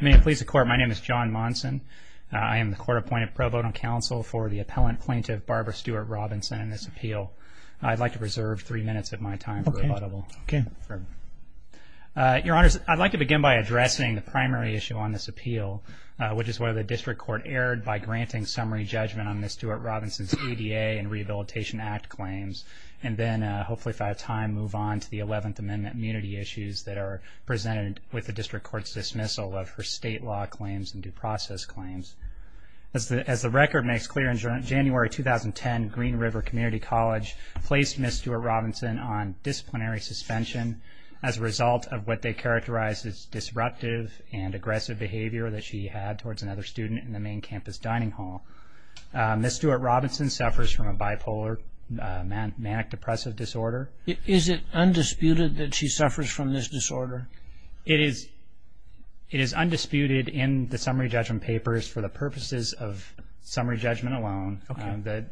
May it please the Court, my name is John Monson. I am the Court-Appointed Pro Bono Counsel for the Appellant Plaintiff Barbara Stewart-Robinson in this appeal. I'd like to preserve three minutes of my time for rebuttal. Your Honors, I'd like to begin by addressing the primary issue on this appeal, which is whether the District Court erred by granting summary judgment on Ms. Stewart-Robinson's ADA and Rehabilitation Act claims, and then hopefully if I have time, move on to the 11th Amendment immunity issues that are presented with the District Court's dismissal of her state law claims and due process claims. As the record makes clear, in January 2010, Green River Community College placed Ms. Stewart-Robinson on disciplinary suspension as a result of what they characterized as disruptive and aggressive behavior that she had towards another student in the main campus dining hall. Ms. Stewart-Robinson suffers from a bipolar manic depressive disorder. Is it undisputed that she suffers from this disorder? It is undisputed in the summary judgment papers for the purposes of summary judgment alone.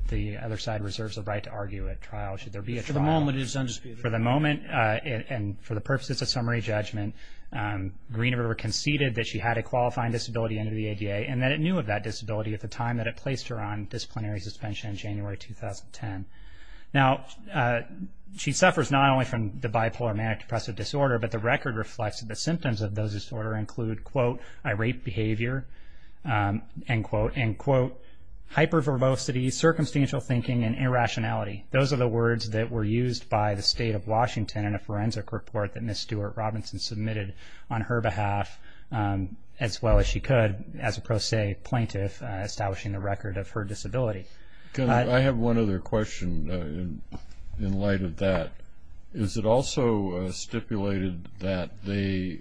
The other side reserves the right to argue at trial should there be a trial. For the moment it is undisputed. For the moment and for the purposes of summary judgment, Green River conceded that she had a qualifying disability under the ADA and that it knew of that disability at the time that it placed her on disciplinary suspension in January 2010. Now, she suffers not only from the bipolar manic depressive disorder, but the record reflects that the symptoms of those disorders include, quote, irate behavior, end quote, end quote, hyper-verbosity, circumstantial thinking, and irrationality. Those are the words that were used by the state of Washington in a forensic report that Ms. Stewart-Robinson submitted on her behalf as well as she could as a pro se plaintiff establishing the record of her disability. I have one other question in light of that. Is it also stipulated that the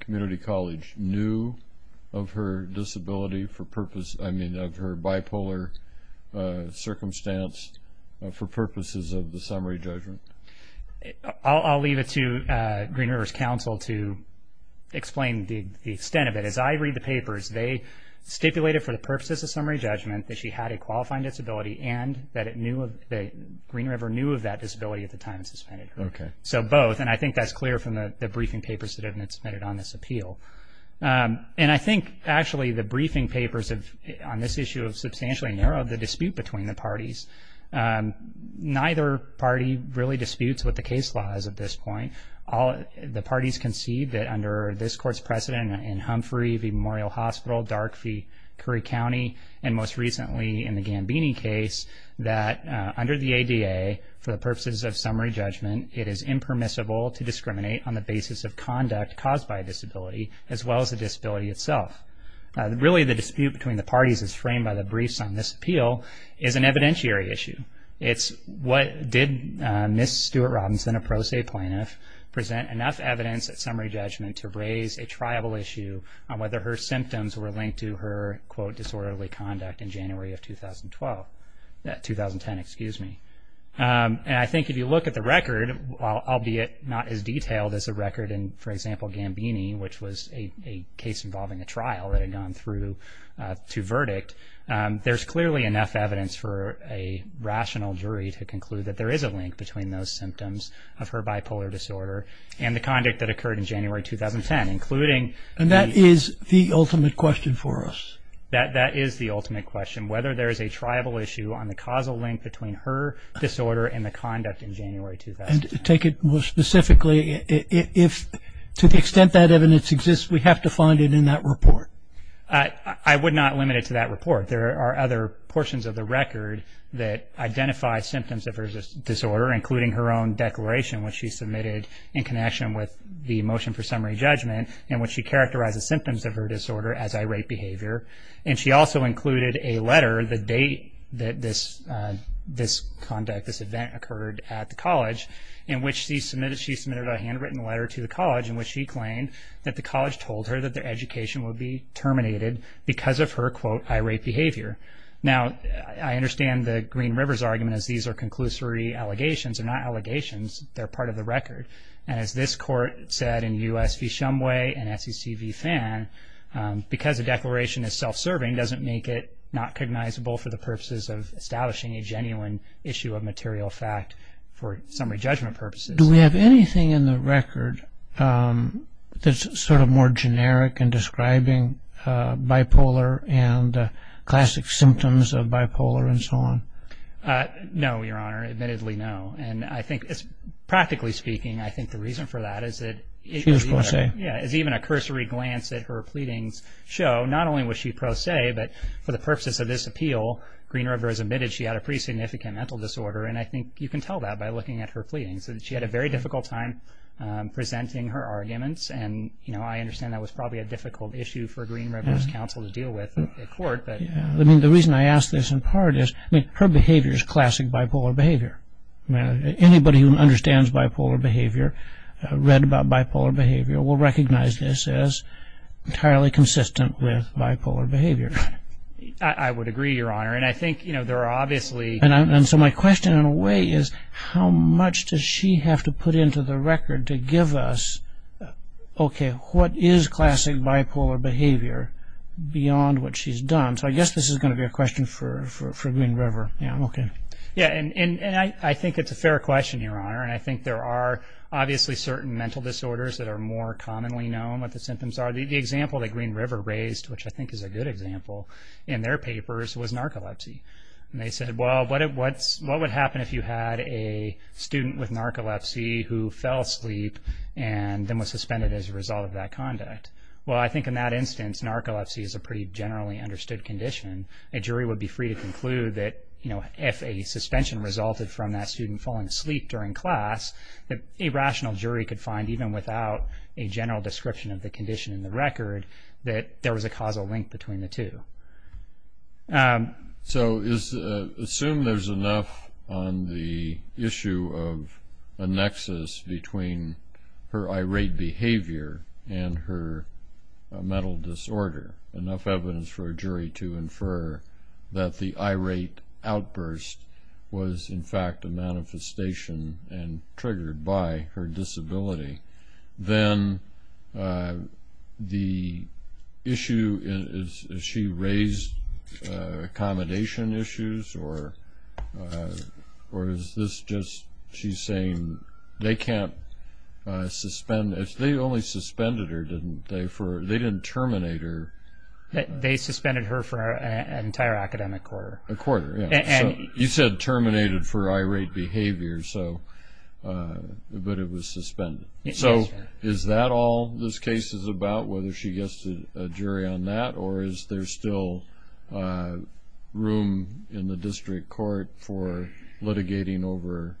community college knew of her disability for purpose, I mean of her bipolar circumstance for purposes of the summary judgment? I'll leave it to Green River's counsel to explain the extent of it. As I read the papers, they stipulated for the purposes of summary judgment that she had a qualifying disability and that Green River knew of that disability at the time it suspended her. So both, and I think that's clear from the briefing papers that have been submitted on this appeal. And I think actually the briefing papers on this issue have substantially narrowed the dispute between the parties. Neither party really disputes what the case law is at this point. The parties concede that under this court's precedent in Humphrey v. Memorial Hospital, Darkey v. Curry County, and most recently in the Gambini case, that under the ADA, for the purposes of summary judgment, it is impermissible to discriminate on the basis of conduct caused by a disability as well as the disability itself. Really the dispute between the parties is framed by the briefs on this appeal is an evidentiary issue. It's what did Ms. Stewart-Robinson, a pro se plaintiff, present enough evidence at summary judgment to raise a tribal issue on whether her symptoms were linked to her, quote, disorderly conduct in January of 2012. 2010, excuse me. And I think if you look at the record, albeit not as detailed as the record in, for example, Gambini, which was a case involving a trial that had gone through to verdict, there's clearly enough evidence for a rational jury to conclude that there is a link between those symptoms of her bipolar disorder and the conduct that occurred in January 2010, including the- And that is the ultimate question for us. That is the ultimate question, whether there is a tribal issue on the causal link between her disorder and the conduct in January 2010. And to take it more specifically, if to the extent that evidence exists, we have to find it in that report. I would not limit it to that report. There are other portions of the record that identify symptoms of her disorder, including her own declaration which she submitted in connection with the motion for summary judgment in which she characterizes symptoms of her disorder as irate behavior. And she also included a letter, the date that this conduct, this event occurred at the college, in which she submitted a handwritten letter to the college in which she claimed that the college told her that their education would be terminated because of her, quote, irate behavior. Now, I understand the Green River's argument as these are conclusory allegations. They're not allegations. They're part of the record. And as this court said in U.S. v. Shumway and SEC v. Fan, because a declaration is self-serving doesn't make it not cognizable for the purposes of establishing a genuine issue of material fact for summary judgment purposes. Do we have anything in the record that's sort of more generic in describing bipolar and classic symptoms of bipolar and so on? No, Your Honor. Admittedly, no. And I think, practically speaking, I think the reason for that is that- She was pro se. Yeah, is even a cursory glance at her pleadings show not only was she pro se, but for the purposes of this appeal, Green River has admitted she had a pretty significant mental disorder. And I think you can tell that by looking at her pleadings. She had a very difficult time presenting her arguments. And, you know, I understand that was probably a difficult issue for Green River's counsel to deal with in court. I mean, the reason I ask this, in part, is her behavior is classic bipolar behavior. Anybody who understands bipolar behavior, read about bipolar behavior, will recognize this as entirely consistent with bipolar behavior. I would agree, Your Honor. And I think, you know, there are obviously- And so my question, in a way, is how much does she have to put into the record to give us, okay, what is classic bipolar behavior beyond what she's done? So I guess this is going to be a question for Green River. Yeah, okay. Yeah, and I think it's a fair question, Your Honor. And I think there are obviously certain mental disorders that are more commonly known what the symptoms are. The example that Green River raised, which I think is a good example, in their papers was narcolepsy. And they said, well, what would happen if you had a student with narcolepsy who fell asleep and then was suspended as a result of that conduct? Well, I think in that instance, narcolepsy is a pretty generally understood condition. A jury would be free to conclude that, you know, if a suspension resulted from that student falling asleep during class, that a rational jury could find, even without a general description of the condition in the record, that there was a causal link between the two. So assume there's enough on the issue of a nexus between her irate behavior and her mental disorder, enough evidence for a jury to infer that the irate outburst was, in fact, a manifestation and triggered by her disability. Then the issue is, has she raised accommodation issues? Or is this just she's saying they can't suspend? They only suspended her, didn't they? They didn't terminate her. They suspended her for an entire academic quarter. A quarter, yeah. You said terminated for irate behavior, but it was suspended. So is that all this case is about, whether she gets a jury on that? Or is there still room in the district court for litigating over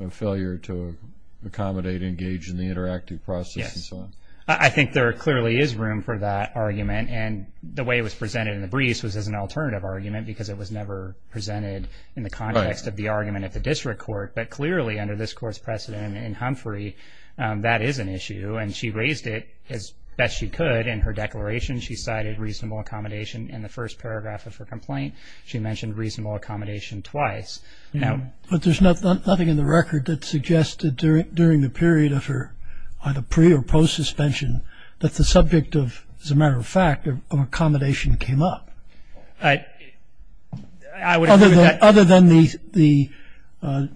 a failure to accommodate, engage in the interactive process and so on? Yes. I think there clearly is room for that argument. And the way it was presented in the briefs was as an alternative argument because it was never presented in the context of the argument at the district court. But clearly under this Court's precedent in Humphrey, that is an issue. And she raised it as best she could in her declaration. She cited reasonable accommodation in the first paragraph of her complaint. She mentioned reasonable accommodation twice. But there's nothing in the record that suggested during the period of her either pre- or post-suspension that the subject of, as a matter of fact, accommodation came up. I would agree with that. Other than the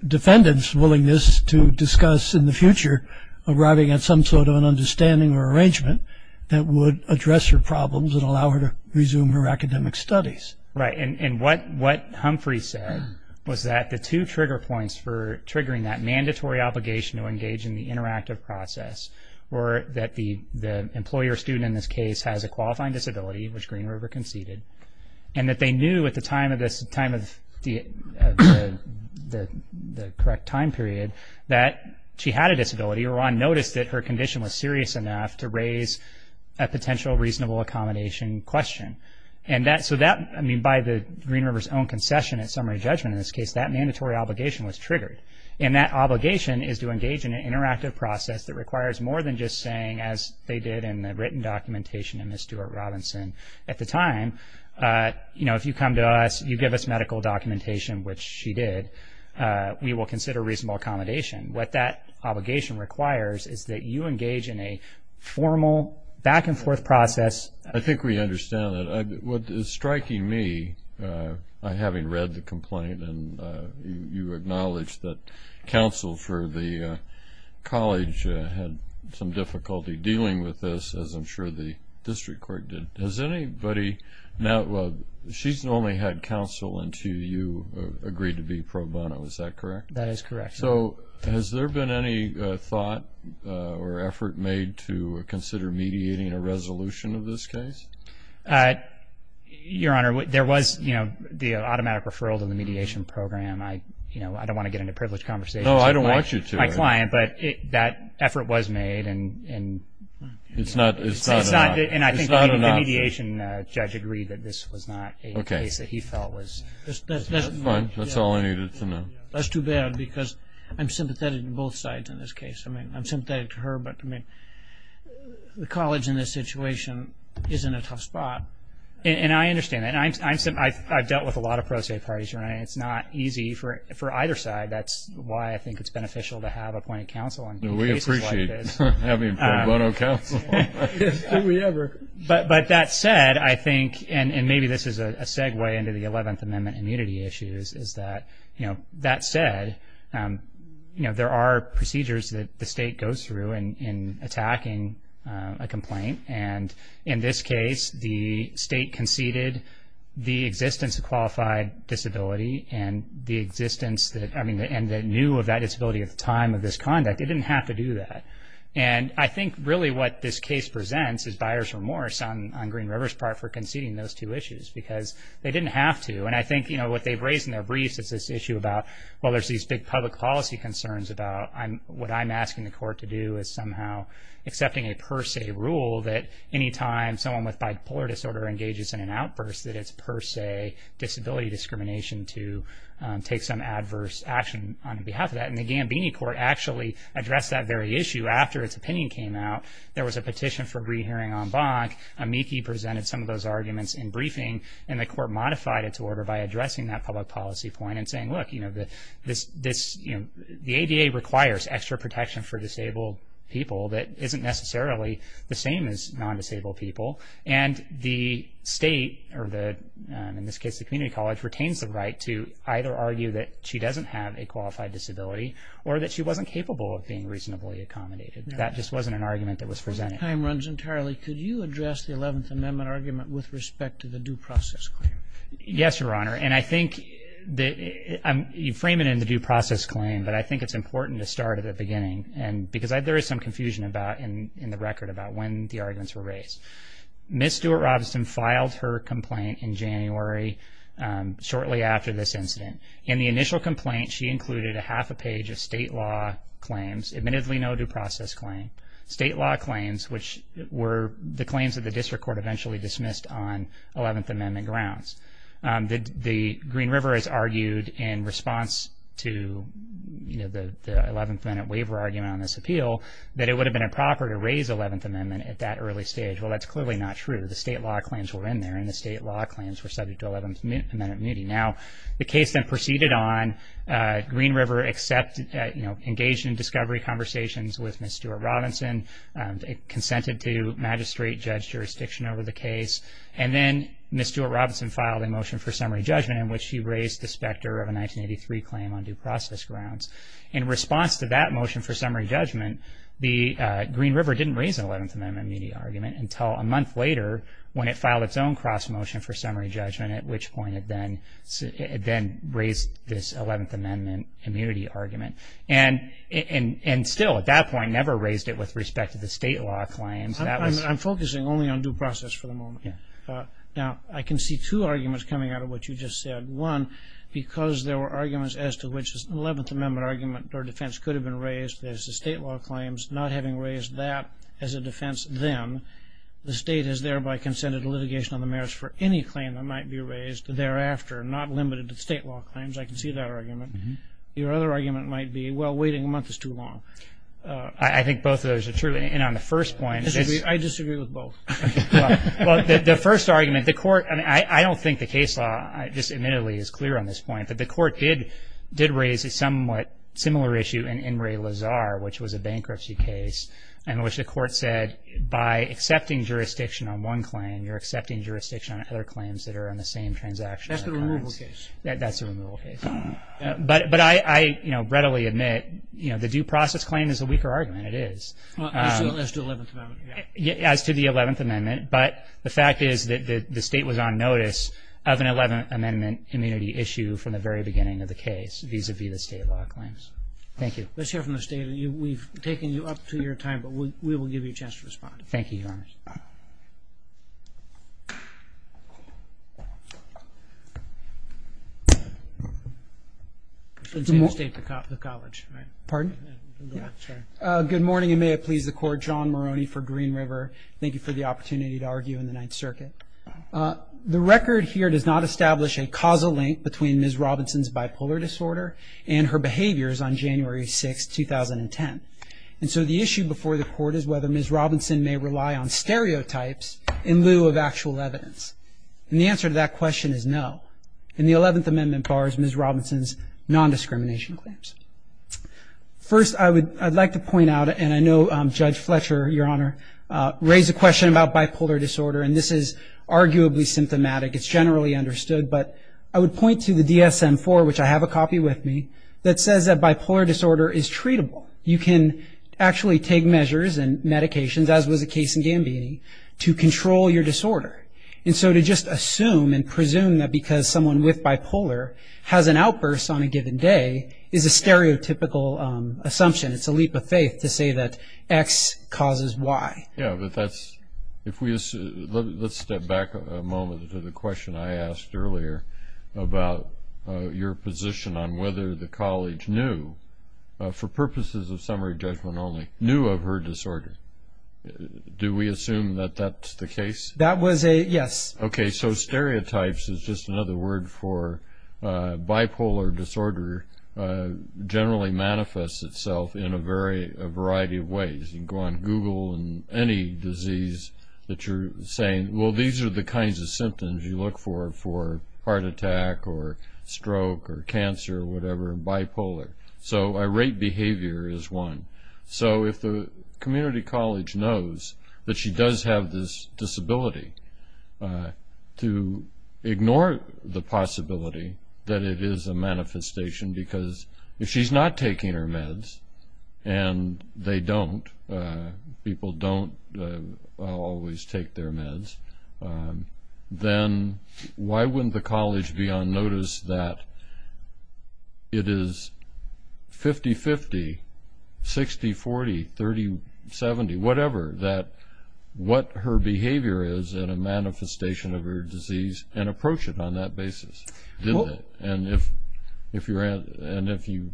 defendant's willingness to discuss in the future arriving at some sort of an understanding or arrangement that would address her problems and allow her to resume her academic studies. Right. And what Humphrey said was that the two trigger points for triggering that mandatory obligation to engage in the interactive process were that the employer or student in this case has a qualifying disability, which Green River conceded, and that they knew at the time of the correct time period that she had a disability or on notice that her condition was serious enough to raise a potential reasonable accommodation question. And so that, I mean, by Green River's own concession and summary judgment in this case, that mandatory obligation was triggered. And that obligation is to engage in an interactive process that requires more than just saying, as they did in the written documentation of Ms. Stewart-Robinson at the time, you know, if you come to us, you give us medical documentation, which she did, we will consider reasonable accommodation. What that obligation requires is that you engage in a formal back-and-forth process. I think we understand that. And you acknowledged that counsel for the college had some difficulty dealing with this, as I'm sure the district court did. Has anybody now ‑‑ she's normally had counsel until you agreed to be pro bono. Is that correct? That is correct. So has there been any thought or effort made to consider mediating a resolution of this case? Your Honor, there was, you know, the automatic referral to the mediation program. I don't want to get into privileged conversations with my client. No, I don't want you to. But that effort was made. It's not enough. And I think the mediation judge agreed that this was not a case that he felt was ‑‑ Okay. Fine. That's all I needed to know. That's too bad, because I'm sympathetic to both sides in this case. I mean, I'm sympathetic to her, but, I mean, the college in this situation is in a tough spot. And I understand that. And I've dealt with a lot of pro se parties, Your Honor, and it's not easy for either side. That's why I think it's beneficial to have appointed counsel on cases like this. We appreciate having pro bono counsel. Do we ever. But that said, I think, and maybe this is a segue into the 11th Amendment immunity issues, is that, you know, that said, you know, there are procedures that the state goes through in attacking a complaint. And in this case, the state conceded the existence of qualified disability and the existence that, I mean, and the new of that disability at the time of this conduct. It didn't have to do that. And I think really what this case presents is buyer's remorse on Green River's part for conceding those two issues, because they didn't have to. And I think, you know, what they've raised in their briefs is this issue about, well, there's these big public policy concerns about what I'm asking the court to do is somehow accepting a per se rule that any time someone with bipolar disorder engages in an outburst, that it's per se disability discrimination to take some adverse action on behalf of that. And the Gambini court actually addressed that very issue after its opinion came out. There was a petition for rehearing en banc. Amici presented some of those arguments in briefing, and the court modified its order by addressing that public policy point and saying, look, you know, the ADA requires extra protection for disabled people that isn't necessarily the same as non-disabled people. And the state, or in this case the community college, retains the right to either argue that she doesn't have a qualified disability or that she wasn't capable of being reasonably accommodated. That just wasn't an argument that was presented. Time runs entirely. Could you address the 11th Amendment argument with respect to the due process claim? Yes, Your Honor. And I think that you frame it in the due process claim, but I think it's important to start at the beginning because there is some confusion in the record about when the arguments were raised. Ms. Stewart-Robinson filed her complaint in January shortly after this incident. In the initial complaint, she included a half a page of state law claims, admittedly no due process claim. State law claims, which were the claims that the district court eventually dismissed on 11th Amendment grounds. The Green River has argued in response to, you know, the 11th Amendment waiver argument on this appeal, that it would have been improper to raise the 11th Amendment at that early stage. Well, that's clearly not true. The state law claims were in there, and the state law claims were subject to 11th Amendment immunity. Now, the case then proceeded on. Green River engaged in discovery conversations with Ms. Stewart-Robinson. It consented to magistrate judge jurisdiction over the case. And then Ms. Stewart-Robinson filed a motion for summary judgment in which she raised the specter of a 1983 claim on due process grounds. In response to that motion for summary judgment, the Green River didn't raise an 11th Amendment immunity argument until a month later when it filed its own cross motion for summary judgment, at which point it then raised this 11th Amendment immunity argument. And still, at that point, never raised it with respect to the state law claims. I'm focusing only on due process for the moment. Now, I can see two arguments coming out of what you just said. One, because there were arguments as to which this 11th Amendment argument or defense could have been raised, there's the state law claims. Not having raised that as a defense then, the state has thereby consented to litigation on the merits for any claim that might be raised thereafter, not limited to state law claims. I can see that argument. Your other argument might be, well, waiting a month is too long. I think both of those are true. And on the first point, it's – I disagree with both. Well, the first argument, the court – I mean, I don't think the case law just admittedly is clear on this point. But the court did raise a somewhat similar issue in Ray Lazar, which was a bankruptcy case in which the court said, by accepting jurisdiction on one claim, you're accepting jurisdiction on other claims that are on the same transaction. That's the removal case. That's the removal case. But I readily admit the due process claim is a weaker argument. It is. As to the 11th Amendment. As to the 11th Amendment. But the fact is that the state was on notice of an 11th Amendment immunity issue from the very beginning of the case vis-à-vis the state law claims. Thank you. Let's hear from the state. We've taken you up to your time, but we will give you a chance to respond. Thank you, Your Honor. It's the state, the college, right? Pardon? Yeah. Good morning, and may it please the Court. John Maroney for Green River. Thank you for the opportunity to argue in the Ninth Circuit. The record here does not establish a causal link between Ms. Robinson's bipolar disorder and her behaviors on January 6, 2010. And so the issue before the Court is whether Ms. Robinson may rely on stereotypes in lieu of actual evidence. And the answer to that question is no. And the 11th Amendment bars Ms. Robinson's nondiscrimination claims. First, I would like to point out, and I know Judge Fletcher, Your Honor, raised a question about bipolar disorder, and this is arguably symptomatic. It's generally understood. But I would point to the DSM-IV, which I have a copy with me, that says that bipolar disorder is treatable. You can actually take measures and medications, as was the case in Gambini, to control your disorder. And so to just assume and presume that because someone with bipolar has an outburst on a given day is a stereotypical assumption, it's a leap of faith to say that X causes Y. Yeah, but that's – let's step back a moment to the question I asked earlier about your position on whether the college knew, for purposes of summary judgment only, knew of her disorder. Do we assume that that's the case? That was a yes. Okay, so stereotypes is just another word for bipolar disorder generally manifests itself in a variety of ways. You can go on Google and any disease that you're saying, well, these are the kinds of symptoms you look for for heart attack or stroke or cancer or whatever, bipolar. So irate behavior is one. So if the community college knows that she does have this disability, to ignore the possibility that it is a manifestation because if she's not taking her meds and they don't, people don't always take their meds, then why wouldn't the college be on notice that it is 50-50, 60-40, 30-70, whatever, that what her behavior is in a manifestation of her disease and approach it on that basis? And if you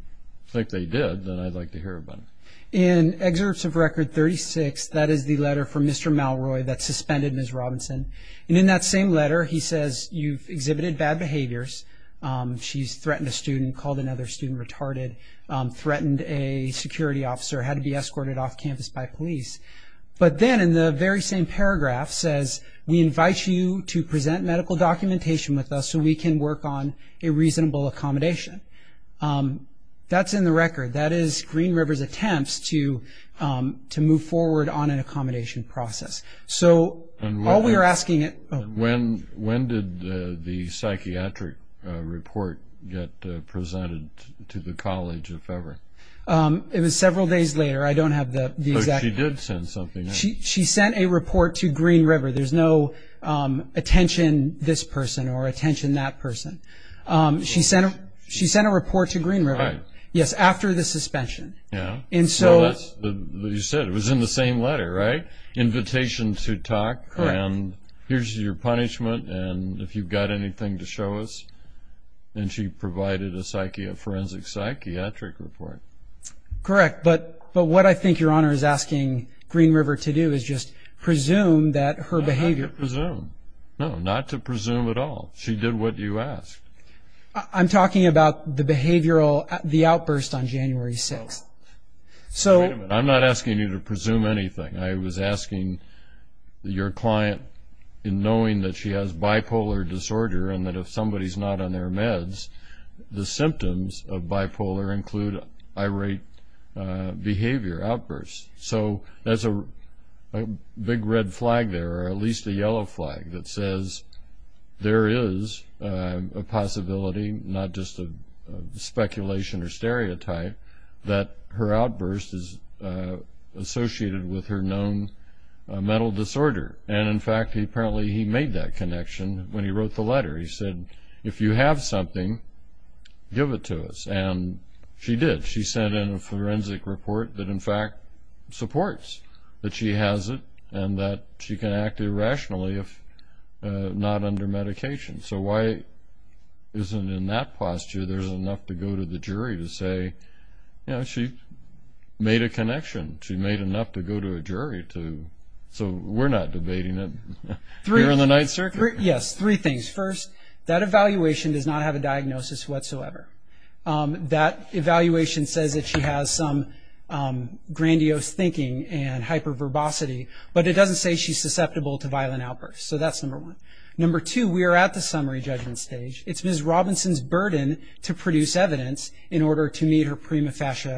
think they did, then I'd like to hear about it. In excerpts of Record 36, that is the letter from Mr. Malroy that suspended Ms. Robinson. And in that same letter he says, you've exhibited bad behaviors. She's threatened a student, called another student retarded, threatened a security officer, had to be escorted off campus by police. But then in the very same paragraph says, we invite you to present medical documentation with us so we can work on a reasonable accommodation. That's in the record. That is Green River's attempts to move forward on an accommodation process. So all we are asking it – When did the psychiatric report get presented to the college, if ever? It was several days later. I don't have the exact – But she did send something in. She sent a report to Green River. There's no attention this person or attention that person. She sent a report to Green River. Right. Yes, after the suspension. Yeah. And so – You said it was in the same letter, right? Invitation to talk. Correct. And here's your punishment and if you've got anything to show us. And she provided a forensic psychiatric report. Correct. But what I think Your Honor is asking Green River to do is just presume that her behavior – Not to presume. No, not to presume at all. She did what you asked. I'm talking about the behavioral – the outburst on January 6th. So – Wait a minute. I'm not asking you to presume anything. I was asking your client, in knowing that she has bipolar disorder and that if somebody's not on their meds, the symptoms of bipolar include irate behavior, outbursts. So there's a big red flag there, or at least a yellow flag, that says there is a possibility, not just a speculation or stereotype, that her outburst is associated with her known mental disorder. And, in fact, apparently he made that connection when he wrote the letter. He said, if you have something, give it to us. And she did. She sent in a forensic report that, in fact, supports that she has it and that she can act irrationally if not under medication. So why isn't, in that posture, there's enough to go to the jury to say, you know, she made a connection. She made enough to go to a jury to – so we're not debating it here in the Ninth Circuit. Yes, three things. First, that evaluation does not have a diagnosis whatsoever. That evaluation says that she has some grandiose thinking and hyperverbosity, but it doesn't say she's susceptible to violent outbursts. So that's number one. Number two, we are at the summary judgment stage. It's Ms. Robinson's burden to produce evidence in order to meet her prima facie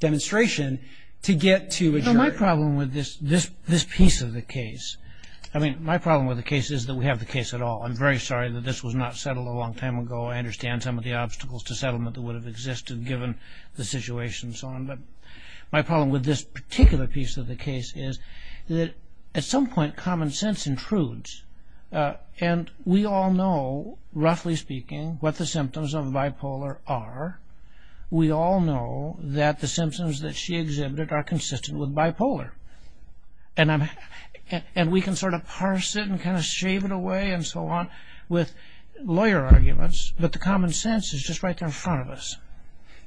demonstration to get to a jury. Well, my problem with this piece of the case – I mean, my problem with the case is that we have the case at all. I'm very sorry that this was not settled a long time ago. I understand some of the obstacles to settlement that would have existed given the situation and so on. But my problem with this particular piece of the case is that, at some point, common sense intrudes. And we all know, roughly speaking, what the symptoms of bipolar are. We all know that the symptoms that she exhibited are consistent with bipolar. And we can sort of parse it and kind of shave it away and so on with lawyer arguments, but the common sense is just right there in front of us.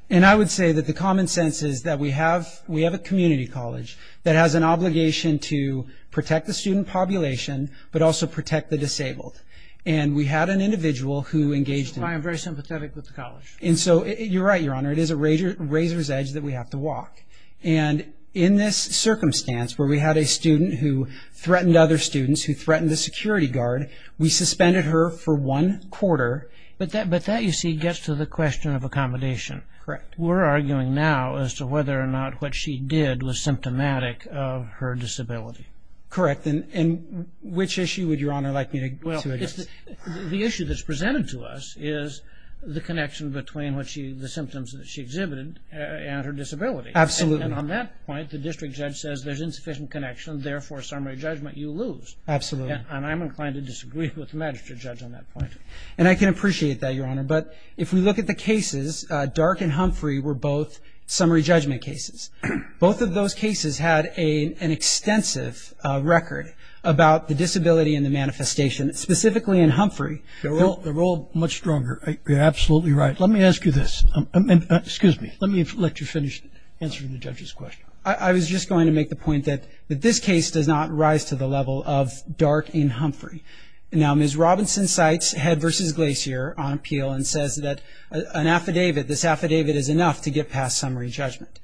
And I would say that the common sense is that we have a community college that has an obligation to protect the student population, but also protect the disabled. And we had an individual who engaged in – I am very sympathetic with the college. And so you're right, Your Honor. It is a razor's edge that we have to walk. And in this circumstance where we had a student who threatened other students, who threatened the security guard, we suspended her for one quarter. But that, you see, gets to the question of accommodation. Correct. We're arguing now as to whether or not what she did was symptomatic of her disability. Correct. And which issue would Your Honor like me to address? Well, the issue that's presented to us is the connection between the symptoms that she exhibited and her disability. Absolutely. And on that point, the district judge says there's insufficient connection, therefore summary judgment you lose. Absolutely. And I'm inclined to disagree with the magistrate judge on that point. And I can appreciate that, Your Honor. But if we look at the cases, Dark and Humphrey were both summary judgment cases. Both of those cases had an extensive record about the disability and the manifestation, specifically in Humphrey. They're all much stronger. You're absolutely right. Let me ask you this. Excuse me. Let me let you finish answering the judge's question. I was just going to make the point that this case does not rise to the level of Dark and Humphrey. Now, Ms. Robinson cites Head v. Glacier on appeal and says that an affidavit, this affidavit is enough to get past summary judgment.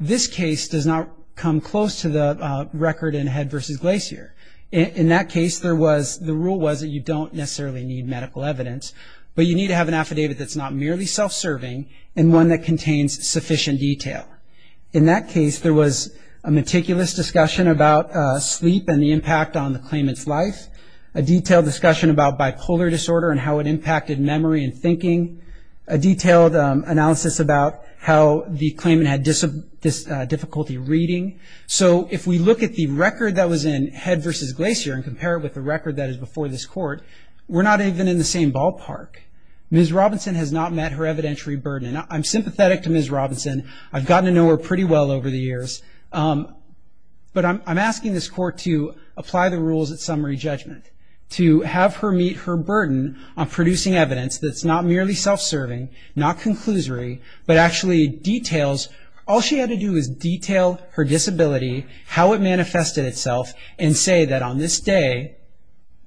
This case does not come close to the record in Head v. Glacier. In that case, the rule was that you don't necessarily need medical evidence, but you need to have an affidavit that's not merely self-serving and one that contains sufficient detail. In that case, there was a meticulous discussion about sleep and the impact on the claimant's life, a detailed discussion about bipolar disorder and how it impacted memory and thinking, a detailed analysis about how the claimant had difficulty reading. So if we look at the record that was in Head v. Glacier and compare it with the record that is before this Court, we're not even in the same ballpark. Ms. Robinson has not met her evidentiary burden. I'm sympathetic to Ms. Robinson. I've gotten to know her pretty well over the years. But I'm asking this Court to apply the rules at summary judgment, to have her meet her burden on producing evidence that's not merely self-serving, not conclusory, but actually details. All she had to do was detail her disability, how it manifested itself, and say that on this day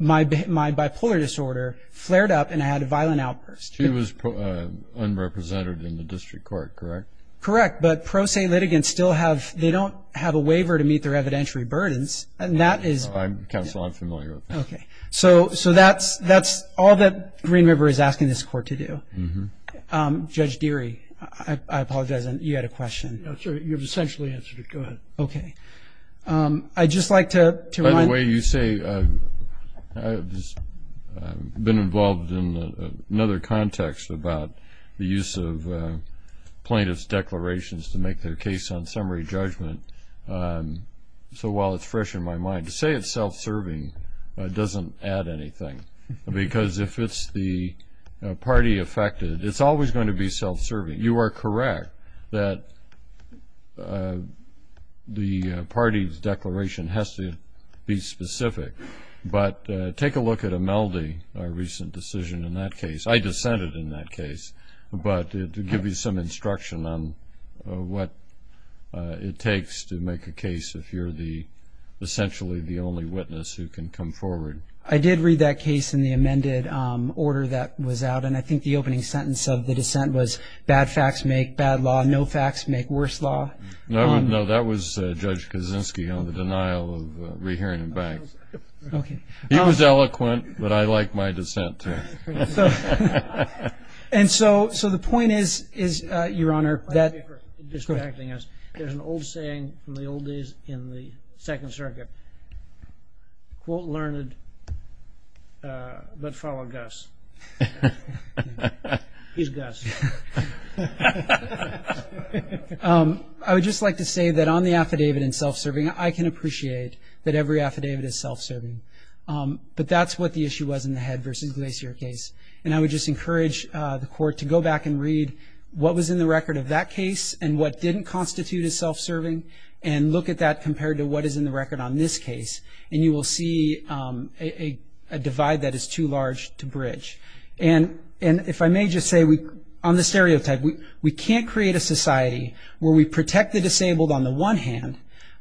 my bipolar disorder flared up and I had a violent outburst. She was unrepresented in the district court, correct? Correct, but pro se litigants still have they don't have a waiver to meet their evidentiary burdens. And that is. Counsel, I'm familiar with that. Okay. So that's all that Green River is asking this Court to do. Judge Deary, I apologize. You had a question. You've essentially answered it. Go ahead. Okay. I'd just like to remind. By the way, you say I've been involved in another context about the use of plaintiff's declarations to make their case on summary judgment. So while it's fresh in my mind, to say it's self-serving doesn't add anything. Because if it's the party affected, it's always going to be self-serving. You are correct that the party's declaration has to be specific. But take a look at Imeldi, our recent decision in that case. I dissented in that case. But to give you some instruction on what it takes to make a case if you're essentially the only witness who can come forward. I did read that case in the amended order that was out, and I think the opening sentence of the dissent was, bad facts make bad law, no facts make worse law. No, that was Judge Kaczynski on the denial of rehearing the bank. He was eloquent, but I like my dissent, too. And so the point is, Your Honor. There's an old saying from the old days in the Second Circuit, quote learned, but follow Gus. He's Gus. I would just like to say that on the affidavit in self-serving, I can appreciate that every affidavit is self-serving. But that's what the issue was in the Head v. Glacier case. And I would just encourage the Court to go back and read what was in the record of that case and what didn't constitute as self-serving, and look at that compared to what is in the record on this case, and you will see a divide that is too large to bridge. And if I may just say, on the stereotype, we can't create a society where we protect the disabled on the one hand,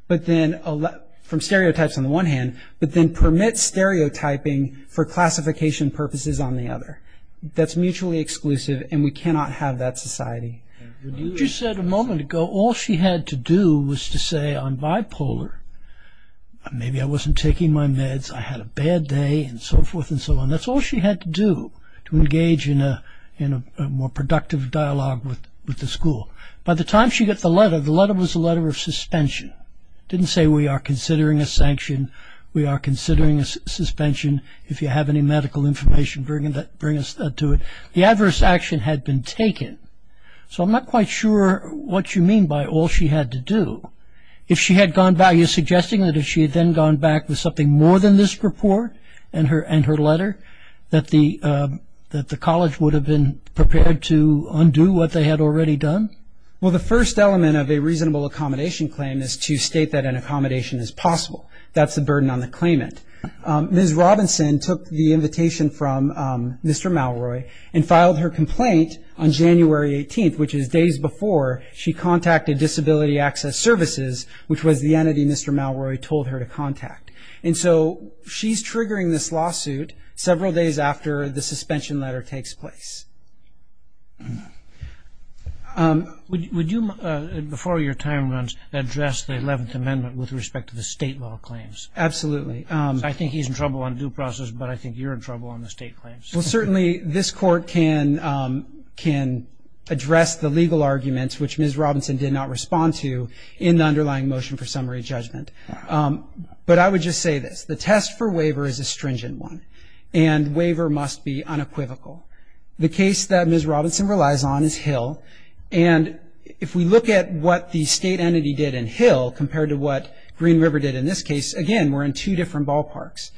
from stereotypes on the one hand, but then permit stereotyping for classification purposes on the other. That's mutually exclusive, and we cannot have that society. You just said a moment ago, all she had to do was to say on bipolar, maybe I wasn't taking my meds, I had a bad day, and so forth and so on. That's all she had to do to engage in a more productive dialogue with the school. By the time she got the letter, the letter was a letter of suspension. It didn't say we are considering a sanction, we are considering a suspension, if you have any medical information, bring us to it. The adverse action had been taken. So I'm not quite sure what you mean by all she had to do. If she had gone back, are you suggesting that if she had then gone back with something more than this report and her letter, that the college would have been prepared to undo what they had already done? Well, the first element of a reasonable accommodation claim is to state that an accommodation is possible. That's the burden on the claimant. Ms. Robinson took the invitation from Mr. Malroy and filed her complaint on January 18th, which is days before she contacted Disability Access Services, which was the entity Mr. Malroy told her to contact. And so she's triggering this lawsuit several days after the suspension letter takes place. Would you, before your time runs, address the 11th Amendment with respect to the state law claims? Absolutely. I think he's in trouble on due process, but I think you're in trouble on the state claims. Well, certainly this Court can address the legal arguments, which Ms. Robinson did not respond to in the underlying motion for summary judgment. But I would just say this. The test for waiver is a stringent one, and waiver must be unequivocal. The case that Ms. Robinson relies on is Hill. And if we look at what the state entity did in Hill compared to what Green River did in this case, again, we're in two different ballparks.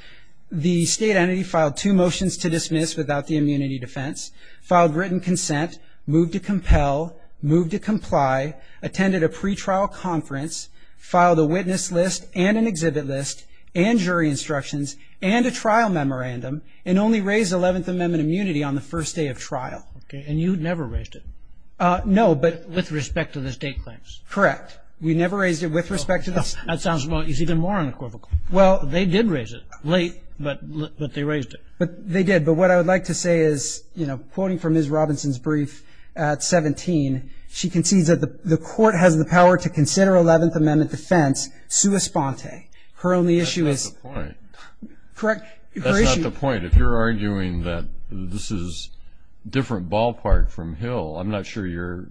The state entity filed two motions to dismiss without the immunity defense, filed written consent, moved to compel, moved to comply, attended a pretrial conference, filed a witness list and an exhibit list and jury instructions and a trial memorandum, and only raised 11th Amendment immunity on the first day of trial. Okay. And you never raised it? No. With respect to the state claims? Correct. We never raised it with respect to the state claims. That sounds even more unequivocal. They did raise it late, but they raised it. They did. But what I would like to say is, you know, quoting from Ms. Robinson's brief at 17, she concedes that the Court has the power to consider 11th Amendment defense sua sponte. That's not the point. Correct? That's not the point. If you're arguing that this is a different ballpark from Hill, I'm not sure you're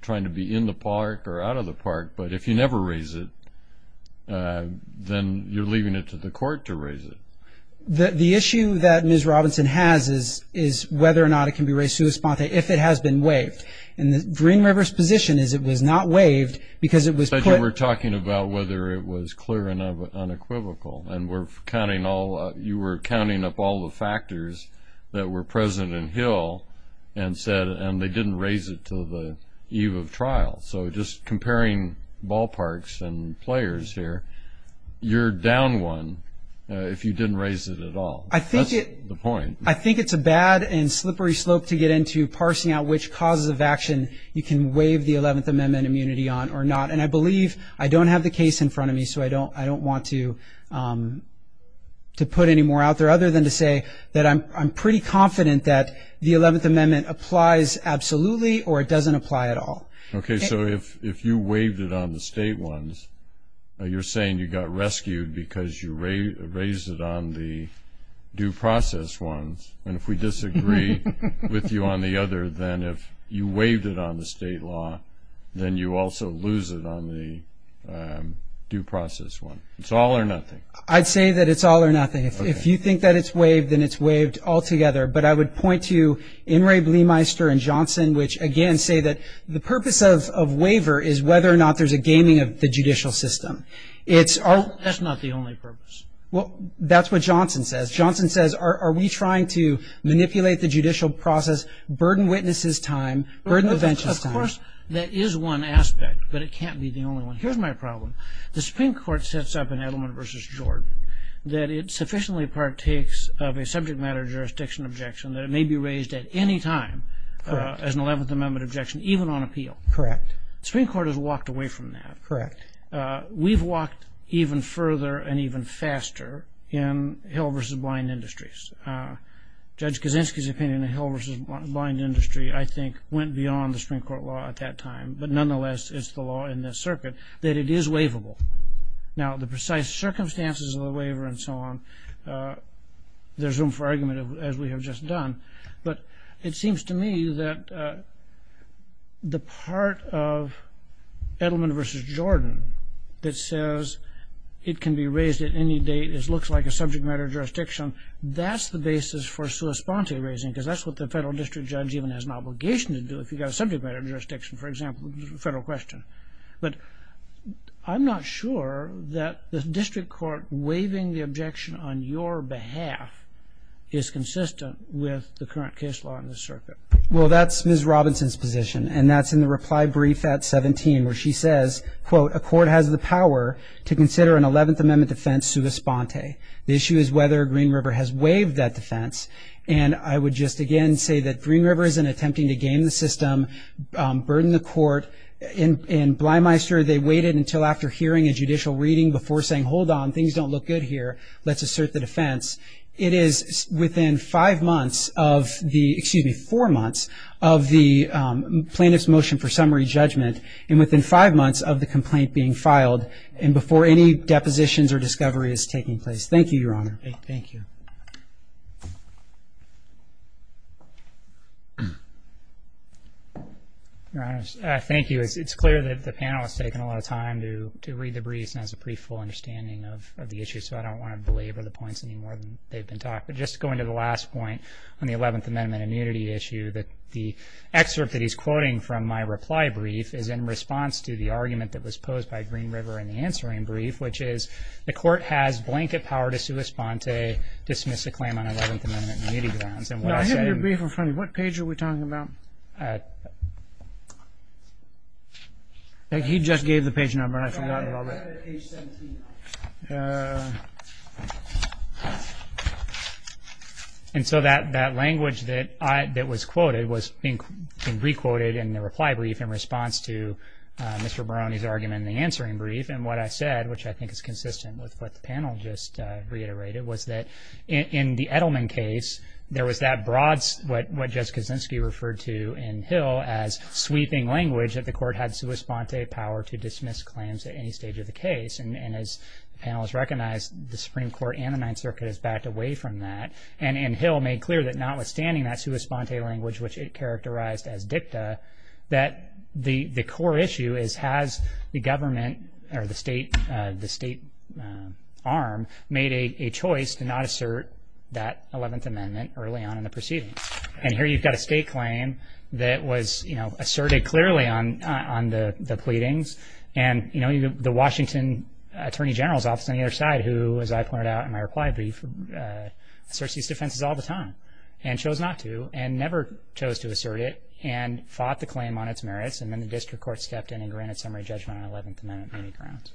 trying to be in the park or out of the park. But if you never raise it, then you're leaving it to the Court to raise it. The issue that Ms. Robinson has is whether or not it can be raised sua sponte if it has been waived. And Green River's position is it was not waived because it was put. But you were talking about whether it was clear and unequivocal, and you were counting up all the factors that were present in Hill and they didn't raise it until the eve of trial. So just comparing ballparks and players here, you're down one if you didn't raise it at all. That's the point. I think it's a bad and slippery slope to get into parsing out which causes of action you can waive the 11th Amendment immunity on or not. And I believe I don't have the case in front of me, so I don't want to put any more out there other than to say that I'm pretty confident that the 11th Amendment applies absolutely or it doesn't apply at all. Okay. So if you waived it on the state ones, you're saying you got rescued because you raised it on the due process ones. And if we disagree with you on the other, then if you waived it on the state law, then you also lose it on the due process one. It's all or nothing. I'd say that it's all or nothing. If you think that it's waived, then it's waived altogether. But I would point to Inouye, Bleemeister, and Johnson, which again say that the purpose of waiver is whether or not there's a gaming of the judicial system. That's not the only purpose. Well, that's what Johnson says. Johnson says, are we trying to manipulate the judicial process, burden witnesses' time, burden the bench's time. Of course, that is one aspect, but it can't be the only one. Here's my problem. The Supreme Court sets up in Edelman v. Jordan that it sufficiently partakes of a subject matter jurisdiction objection that it may be raised at any time as an Eleventh Amendment objection, even on appeal. Correct. The Supreme Court has walked away from that. Correct. We've walked even further and even faster in Hill v. Blind Industries. Judge Kaczynski's opinion of Hill v. Blind Industry, I think, went beyond the Supreme Court law at that time, but nonetheless it's the law in this circuit that it is waivable. Now, the precise circumstances of the waiver and so on, there's room for argument, as we have just done, but it seems to me that the part of Edelman v. Jordan that says it can be raised at any date and it looks like a subject matter jurisdiction, that's the basis for sua sponte raising because that's what the federal district judge even has an obligation to do if you've got a subject matter jurisdiction, for example, federal question. But I'm not sure that the district court waiving the objection on your behalf is consistent with the current case law in this circuit. Well, that's Ms. Robinson's position, and that's in the reply brief at 17, where she says, quote, a court has the power to consider an Eleventh Amendment defense sua sponte. The issue is whether Green River has waived that defense, and I would just again say that Green River isn't attempting to game the system, burden the court, and Blymeister, they waited until after hearing a judicial reading before saying, hold on, things don't look good here, let's assert the defense. It is within five months of the, excuse me, four months of the plaintiff's motion for summary judgment and within five months of the complaint being filed and before any depositions or discovery is taking place. Thank you, Your Honor. Thank you. Thank you. It's clear that the panel has taken a lot of time to read the briefs and has a pretty full understanding of the issue, so I don't want to belabor the points any more than they've been talked about. Just going to the last point on the Eleventh Amendment immunity issue, the excerpt that he's quoting from my reply brief is in response to the argument that was posed by Green River in the answering brief, which is the court has blanket power to sua sponte, dismiss the claim on Eleventh Amendment immunity grounds. I have your brief in front of me. What page are we talking about? He just gave the page number and I forgot about that. Page 17. And so that language that was quoted was being re-quoted in the reply brief in response to Mr. Barone's argument in the answering brief, and what I said, which I think is consistent with what the panel just reiterated, was that in the Edelman case, there was that broad, what Judge Kaczynski referred to in Hill as sweeping language, that the court had sua sponte power to dismiss claims at any stage of the case, and as the panel has recognized, the Supreme Court and the Ninth Circuit has backed away from that, and in Hill made clear that notwithstanding that sua sponte language, which it characterized as dicta, that the core issue is has the government or the state arm made a choice to not assert that Eleventh Amendment early on in the proceeding? And here you've got a state claim that was asserted clearly on the pleadings, and the Washington Attorney General's Office on the other side, who, as I pointed out in my reply brief, asserts these defenses all the time and chose not to and never chose to assert it and fought the claim on its merits, and then the district court stepped in and granted summary judgment on Eleventh Amendment-based grounds.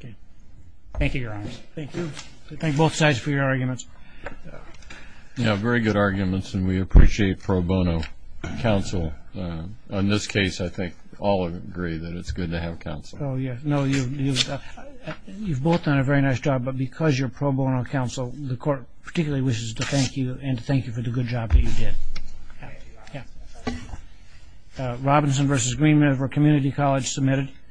Okay. Thank you, Your Honors. Thank you. I thank both sides for your arguments. Yeah, very good arguments, and we appreciate pro bono counsel. In this case, I think all agree that it's good to have counsel. Oh, yeah. No, you've both done a very nice job, but because you're pro bono counsel, the court particularly wishes to thank you and to thank you for the good job that you did. Yeah. Yeah. Robinson v. Green River Community College, submitted.